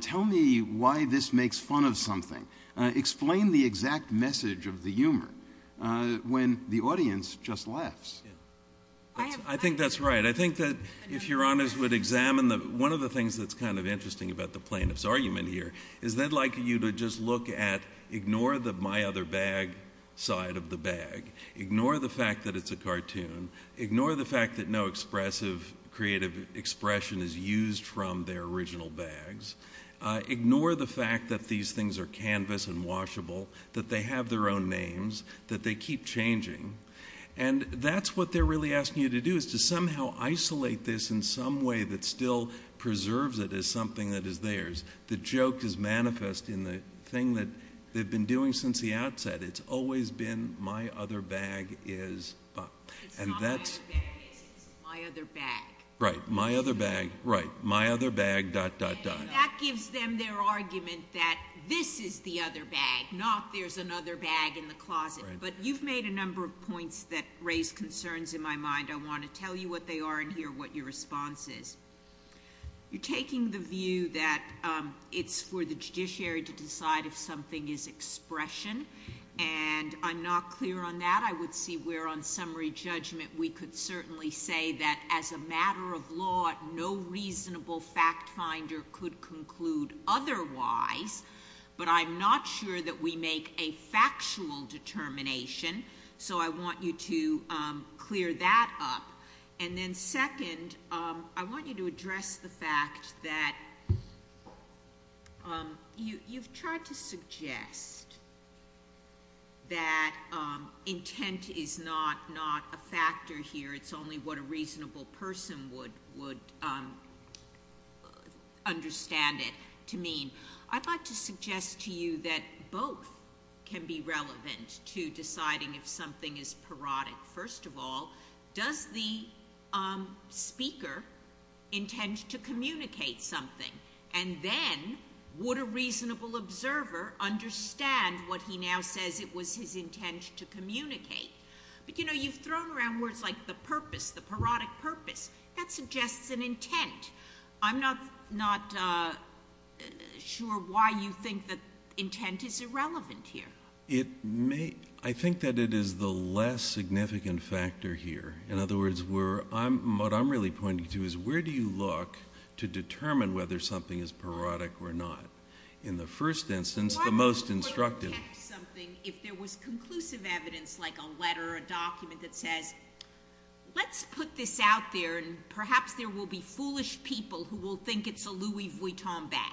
Tell me why this makes fun of something. Explain the exact message of the humor when the audience just laughs. I think that's right. I think that if Your Honors would examine one of the things that's kind of interesting about the plaintiff's argument here is they'd like you to just look at, ignore the my other bag side of the bag. Ignore the fact that it's a cartoon. Ignore the fact that no expressive, creative expression is used from their original bags. Ignore the fact that these things are canvas and washable, that they have their own names, that they keep changing. And that's what they're really asking you to do is to somehow isolate this in some way that still preserves it as something that is theirs. The joke is manifest in the thing that they've been doing since the outset. It's always been my other bag is. It's not my other bag is, it's my other bag. Right. My other bag. Right. My other bag dot, dot, dot. That gives them their argument that this is the other bag, not there's another bag in the closet. But you've made a number of points that raise concerns in my mind. I want to tell you what they are and hear what your response is. You're taking the view that it's for the judiciary to decide if something is expression. And I'm not clear on that. I would see where on summary judgment, we could certainly say that as a matter of law, no reasonable fact finder could conclude otherwise. But I'm not sure that we make a factual determination. So I want you to, um, clear that up. And then second, um, I want you to address the fact that, um, you, you've tried to suggest that, um, intent is not, not a factor here. It's only what a reasonable person would, would, um, understand it to mean. I'd like to suggest to you that both can be relevant to deciding if something is parodic. First of all, does the, um, speaker intend to communicate something and then would a reasonable observer understand what he now says it was his intent to communicate. But, you know, you've thrown around words like the purpose, the parodic purpose that suggests an intent. I'm not, not, uh, sure why you think that intent is irrelevant here. It may, I think that it is the less significant factor here. In other words, we're, I'm, what I'm really pointing to is where do you look to determine whether something is parodic or not? In the first instance, the most instructive. If there was conclusive evidence, like a letter or a document that says, let's put this out there and perhaps there will be foolish people who will think it's a Louis Vuitton bag.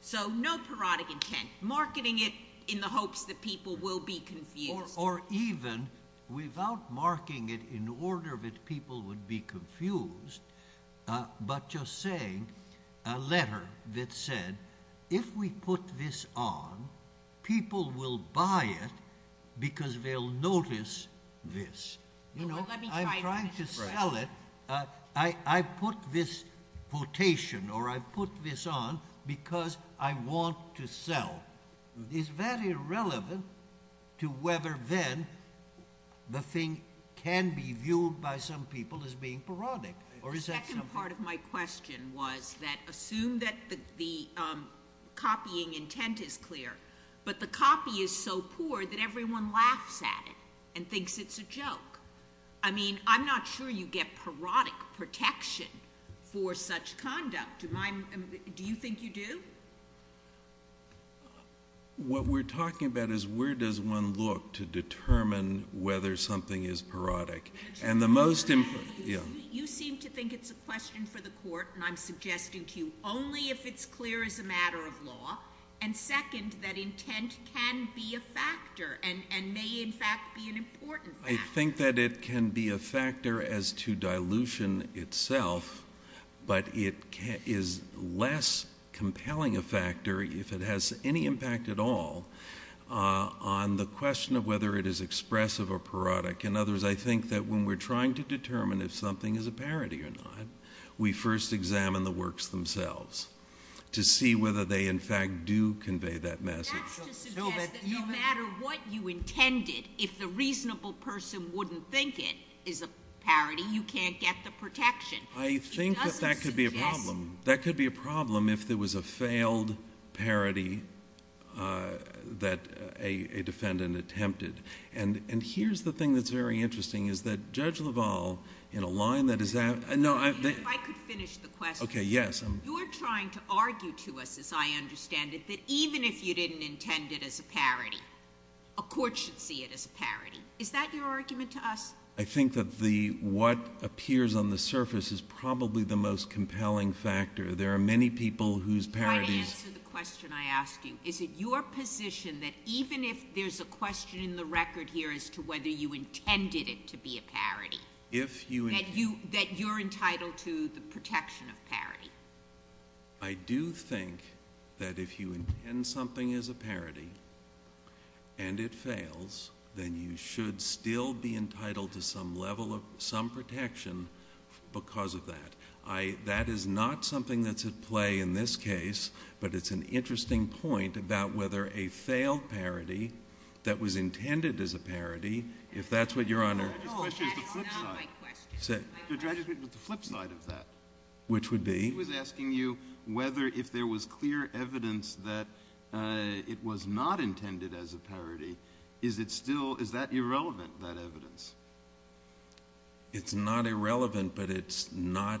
So no parodic intent, marketing it in the hopes that people will be confused. Or even without marking it in order that people would be confused, uh, but just saying a letter that said, if we put this on, people will buy it because they'll notice this. You know, I'm trying to sell it. I put this quotation or I put this on because I want to sell. It's very relevant to whether then the thing can be viewed by some people as being parodic. Or is that part of my question was that assume that the, the, um, copying intent is clear, but the copy is so poor that everyone laughs at it and thinks it's a joke. I mean, I'm not sure you get parodic protection for such conduct. Do you think you do? What we're talking about is where does one look to determine whether something is parodic? And the most important, yeah. You seem to think it's a question for the court and I'm suggesting to you only if it's clear as a matter of law. And second, that intent can be a factor and, and may in fact be an important factor. I think that it can be a factor as to dilution itself, but it is less compelling a factor if it has any impact at all, uh, on the question of whether it is expressive or parodic. In other words, I think that when we're trying to determine if something is a parody or not, we first examine the works themselves to see whether they in fact do convey that message. That's to suggest that no matter what you intended, if the reasonable person wouldn't think it is a parody, you can't get the protection. I think that that could be a problem. That could be a problem if there was a failed parody, uh, that a, a defendant attempted. And, and here's the thing that's very interesting is that Judge LaValle in a line that is that, uh, no, I could finish the question. Okay. Yes. You're trying to argue to us as I understand it, that even if you didn't intend it as a parody, a court should see it as a parody. Is that your argument to us? I think that the, what appears on the surface is probably the most compelling factor. There are many people whose parodies. To answer the question I asked you, is it your position that even if there's a question in the record here as to whether you intended it to be a parody? If you... That you, that you're entitled to the protection of parody. I do think that if you intend something as a parody and it fails, then you should still be entitled to some level of, some protection because of that. I, that is not something that's at play in this case, but it's an interesting point about whether a failed parody that was intended as a parody, if that's what your Honor... No, that's not my question. The drag is the flip side of that. Which would be? He was asking you whether if there was clear evidence that it was not intended as a parody, is it still, is that irrelevant, that evidence? It's not irrelevant, but it's not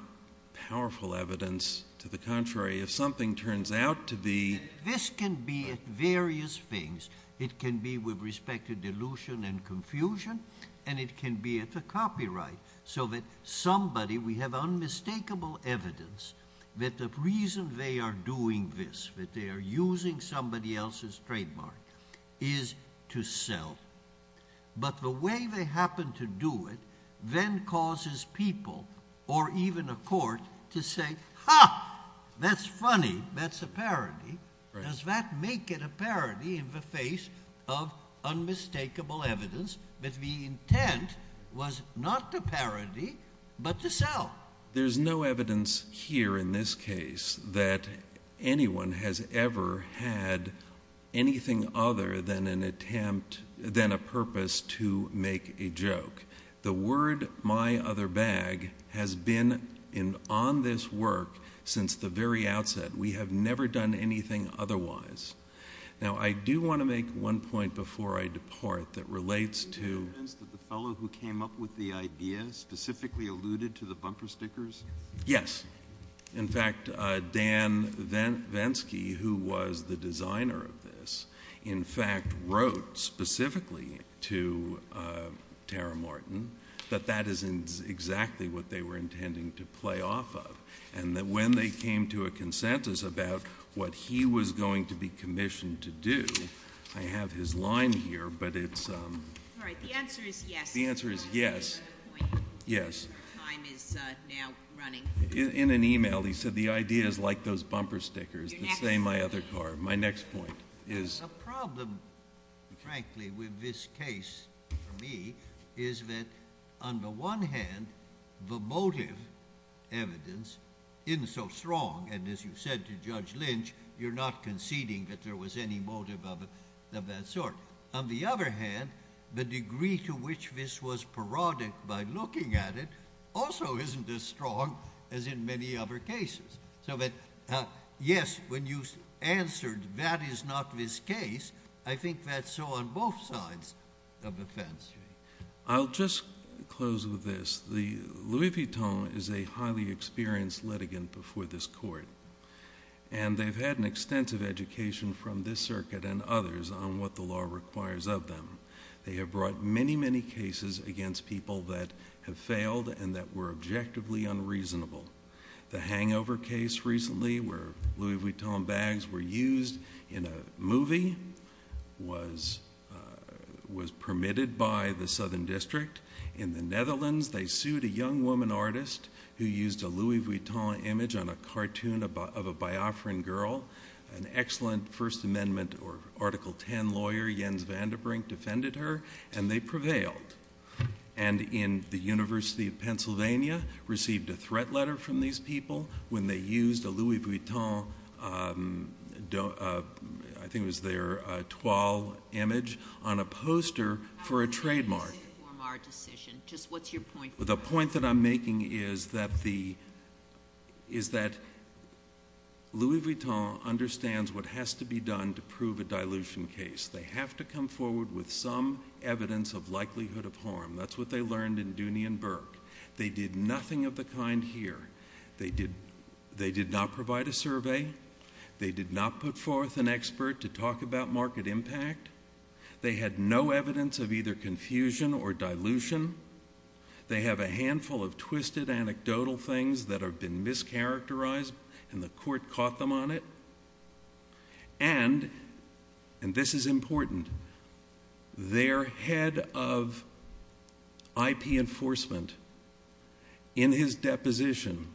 powerful evidence. To the contrary, if something turns out to be... This can be at various things. It can be with respect to delusion and confusion, and it can be at the copyright. So that somebody, we have unmistakable evidence that the reason they are doing this, that they are using somebody else's trademark is to sell. But the way they happen to do it then causes people or even a court to say, ha, that's funny, that's a parody. Does that make it a parody in the face of unmistakable evidence that the intent was not to parody, but to sell? There's no evidence here in this case that anyone has ever had anything other than an attempt, than a purpose to make a joke. The word, my other bag, has been on this work since the very outset. We have never done anything otherwise. Now, I do want to make one point before I depart that relates to... Do you have evidence that the fellow who came up with the idea specifically alluded to the bumper stickers? Yes. In fact, Dan Venske, who was the designer of this, in fact wrote specifically to Tara Morton that that is exactly what they were intending to play off of. And that when they came to a consensus about what he was going to be commissioned to do, I have his line here, but it's... All right. The answer is yes. The answer is yes. Yes. Our time is now running. In an email, he said the idea is like those bumper stickers, the same my other car. My next point is... The problem, frankly, with this case for me is that on the one hand, the motive evidence isn't so strong. And as you said to Judge Lynch, you're not conceding that there was any motive of that sort. On the other hand, the degree to which this was parodic by looking at it also isn't as strong as in many other cases. So that, yes, when you answered that is not this case, I think that's so on both sides of the fence. I'll just close with this. The Louis Vuitton is a highly experienced litigant before this court. And they've had an extensive education from this circuit and others on what the law requires of them. They have brought many, many cases against people that have failed and that were objectively unreasonable. The hangover case recently where Louis Vuitton bags were used in a movie was permitted by the Southern District. In the Netherlands, they sued a young woman artist who used a Louis Vuitton image on a cartoon of a Biafran girl. An excellent First Amendment or Article 10 lawyer, Jens Vandebrink, defended her and they prevailed. And in the University of Pennsylvania, received a threat letter from these people when they used a Louis Vuitton, I think it was their toile image on a poster for a trademark. How does that inform our decision? Just what's your point? The point that I'm making is that the, is that Louis Vuitton understands what has to be done to prove a dilution case. They have to come forward with some evidence of likelihood of harm. That's what they learned in Dooney and Burke. They did nothing of the kind here. They did, they did not provide a survey. They did not put forth an expert to talk about market impact. They had no evidence of either confusion or dilution. They have a handful of twisted anecdotal things that have been mischaracterized and the court caught them on it. And, and this is important, their head of IP enforcement in his deposition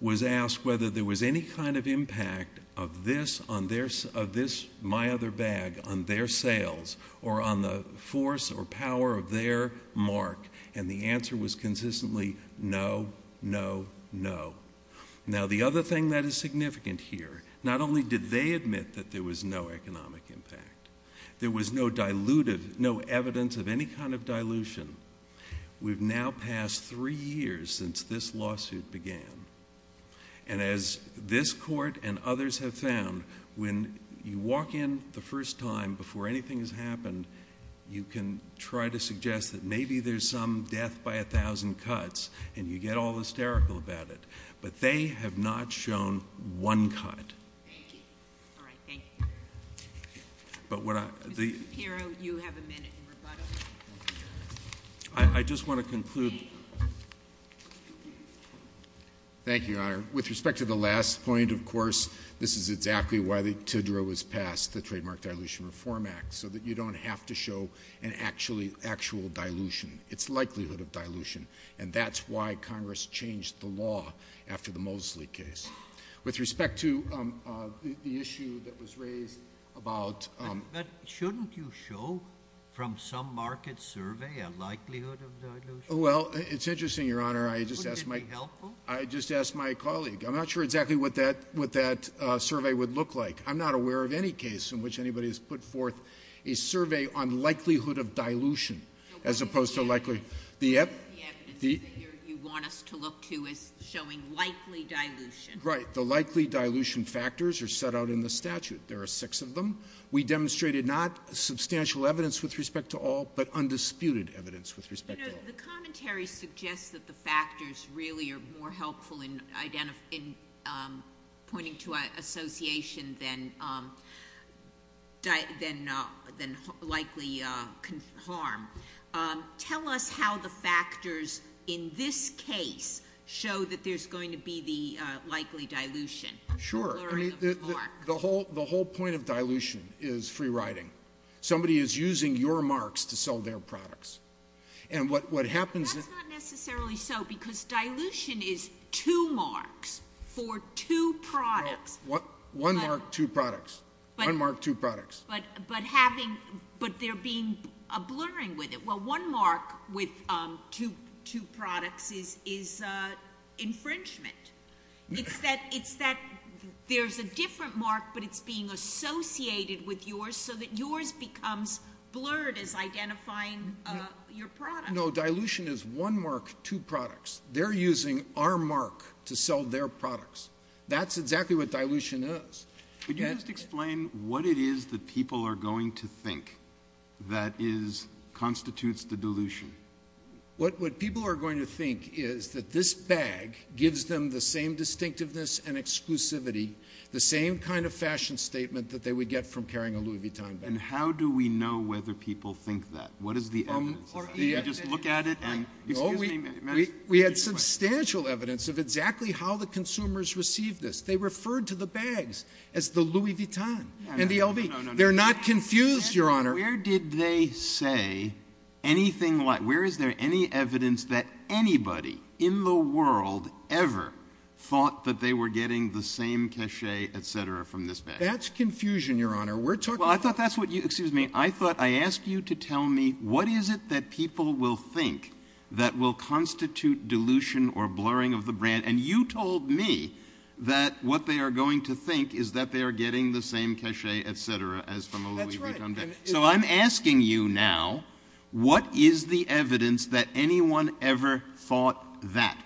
was asked whether there was any kind of impact of this on their, of this, my other bag on their sales or on the force or power of their mark. And the answer was consistently no, no, no. Now the other thing that is significant here, not only did they admit that there was no economic impact, there was no diluted, no evidence of any kind of dilution. We've now passed three years since this lawsuit began. And as this court and others have found, when you walk in the first time before anything has happened, you can try to suggest that maybe there's some death by a thousand cuts and you get all hysterical about it. But they have not shown one cut. But what I, I just want to conclude. Thank you, Your Honor. With respect to the last point, of course, this is exactly why the TIDRA was passed, the Trademark Dilution Reform Act, so that you don't have to show an actual dilution. It's likelihood of dilution. And that's why Congress changed the law after the Mosley case. With respect to the issue that was raised about... But shouldn't you show from some market survey a likelihood of dilution? Well, it's interesting, Your Honor. I just asked my... Wouldn't it be helpful? I just asked my colleague. I'm not sure exactly what that, what that survey would look like. I'm not aware of any case in which anybody has put forth a survey on likelihood of dilution as opposed to likely... The evidence that you want us to look to is showing likely dilution. Right. The likely dilution factors are set out in the statute. There are six of them. We demonstrated not substantial evidence with respect to all, but undisputed evidence with respect to all. The commentary suggests that the factors really are more helpful in pointing to association than likely harm. Tell us how the factors in this case show that there's going to be the likely dilution. Sure. The whole point of dilution is free riding. Somebody is using your marks to sell their products. And what happens... That's not necessarily so because dilution is two marks for two products. One mark, two products. One mark, two products. But there being a blurring with it. One mark with two products is infringement. It's that there's a different mark, but it's being associated with yours so that yours becomes blurred as identifying your product. No, dilution is one mark, two products. They're using our mark to sell their products. That's exactly what dilution is. Could you just explain what it is that people are going to think that constitutes the dilution? What people are going to think is that this bag gives them the same distinctiveness and exclusivity, the same kind of fashion statement that they would get from carrying a Louis Vuitton bag. And how do we know whether people think that? What is the evidence? Do you just look at it and... No, we had substantial evidence of exactly how the consumers received this. They referred to the bags as the Louis Vuitton and the LV. They're not confused, Your Honor. Where did they say anything like... Where is there any evidence that anybody in the world ever thought that they were getting the same cachet, et cetera, from this bag? That's confusion, Your Honor. We're talking... Well, I thought that's what you... Excuse me. I thought I asked you to tell me what is it that people will think that will constitute dilution or blurring of the brand. And you told me that what they are going to think is that they are getting the same cachet, et cetera, as from a Louis Vuitton bag. So I'm asking you now, what is the evidence that anyone ever thought that?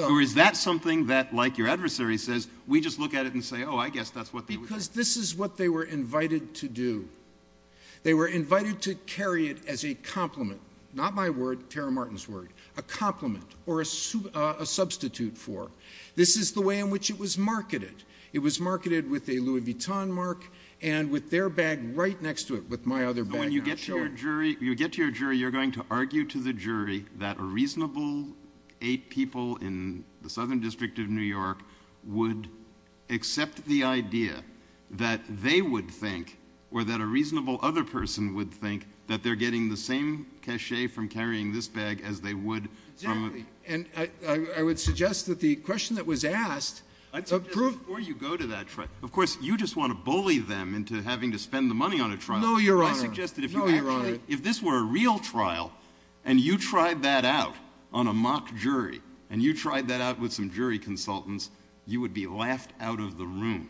Or is that something that, like your adversary says, we just look at it and say, oh, I guess that's what they... Because this is what they were invited to do. They were invited to carry it as a compliment, not my word, Tara Martin's word, a compliment or a substitute for. This is the way in which it was marketed. It was marketed with a Louis Vuitton mark and with their bag right next to it, with my other bag. When you get to your jury, you're going to argue to the jury that a reasonable eight people in the Southern District of New York would accept the idea that they would think or that a reasonable other person would think that they're getting the same cachet from carrying this bag as they would... And I would suggest that the question that was asked... I'd suggest before you go to that trial... Of course, you just want to bully them into having to spend the money on a trial. No, Your Honor. I suggested if this were a real trial and you tried that out on a mock jury and you tried that out with some jury consultants, you would be laughed out of the room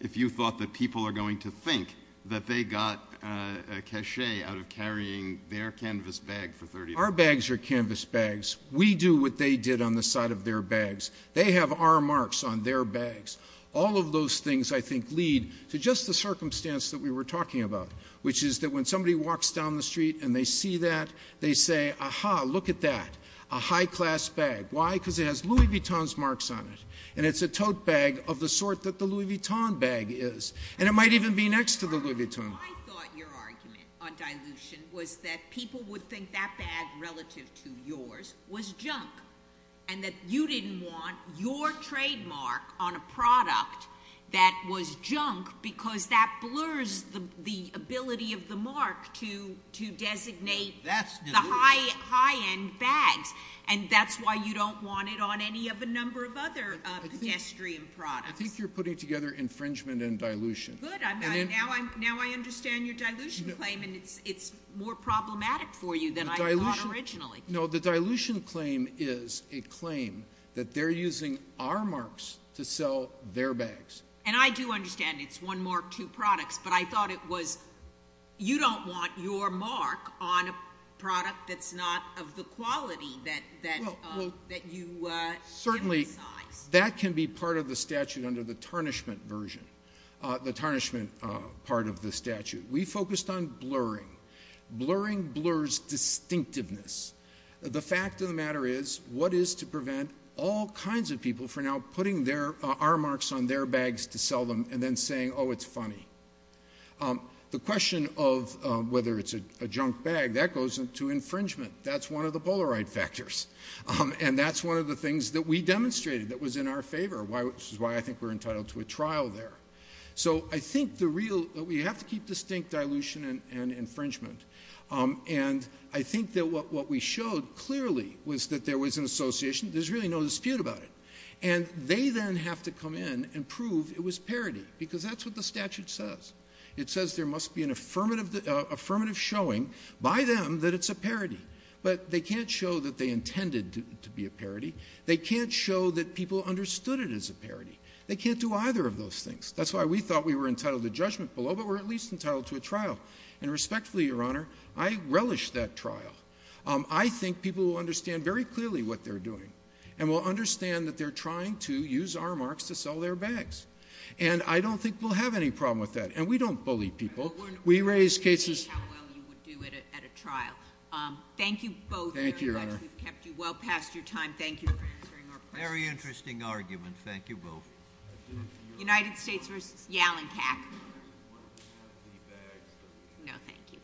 if you thought that people are going to think that they got a cachet out of carrying their canvas bag for 30 minutes. Our bags are canvas bags. We do what they did on the side of their bags. They have our marks on their bags. All of those things, I think, lead to just the circumstance that we were talking about, which is that when somebody walks down the street and they see that, they say, Aha, look at that. A high class bag. Why? Because it has Louis Vuitton's marks on it. And it's a tote bag of the sort that the Louis Vuitton bag is. And it might even be next to the Louis Vuitton. I thought your argument on dilution was that people would think that bag relative to yours was junk and that you didn't want your trademark on a product that was junk because that blurs the ability of the mark to designate the high end bags. And that's why you don't want it on any of a number of other pedestrian products. I think you're putting together infringement and dilution. Good. Now I understand your dilution claim. And it's more problematic for you than I thought originally. No, the dilution claim is a claim that they're using our marks to sell their bags. And I do understand it's one mark, two products, but I thought it was, you don't want your mark on a product that's not of the quality that you emphasize. Certainly, that can be part of the statute under the tarnishment version, the tarnishment part of the statute. We focused on blurring. Blurring blurs distinctiveness. The fact of the matter is what is to prevent all kinds of people for now putting their R marks on their bags to sell them and then saying, oh, it's funny. The question of whether it's a junk bag, that goes into infringement. That's one of the Polaroid factors. And that's one of the things that we demonstrated that was in our favor, which is why I think we're entitled to a trial there. So I think the real, we have to keep distinct dilution and infringement. And I think that what we showed clearly was that there was an association. There's really no dispute about it. And they then have to come in and prove it was parody because that's what the statute says. It says there must be an affirmative showing by them that it's a parody, but they can't show that they intended to be a parody. They can't show that people understood it as a parody. They can't do either of those things. That's why we thought we were entitled to judgment below, but we're at least entitled to a trial. And respectfully, Your Honor, I relish that trial. I think people will understand very clearly what they're doing and will understand that they're trying to use our marks to sell their bags. And I don't think we'll have any problem with that. And we don't bully people. We raise cases. How well you would do it at a trial. Thank you both very much. Thank you, Your Honor. We've kept you well past your time. Thank you for answering our questions. Very interesting argument. Thank you both. United States v. Yalenkak. I just wanted to have the bags. No, thank you.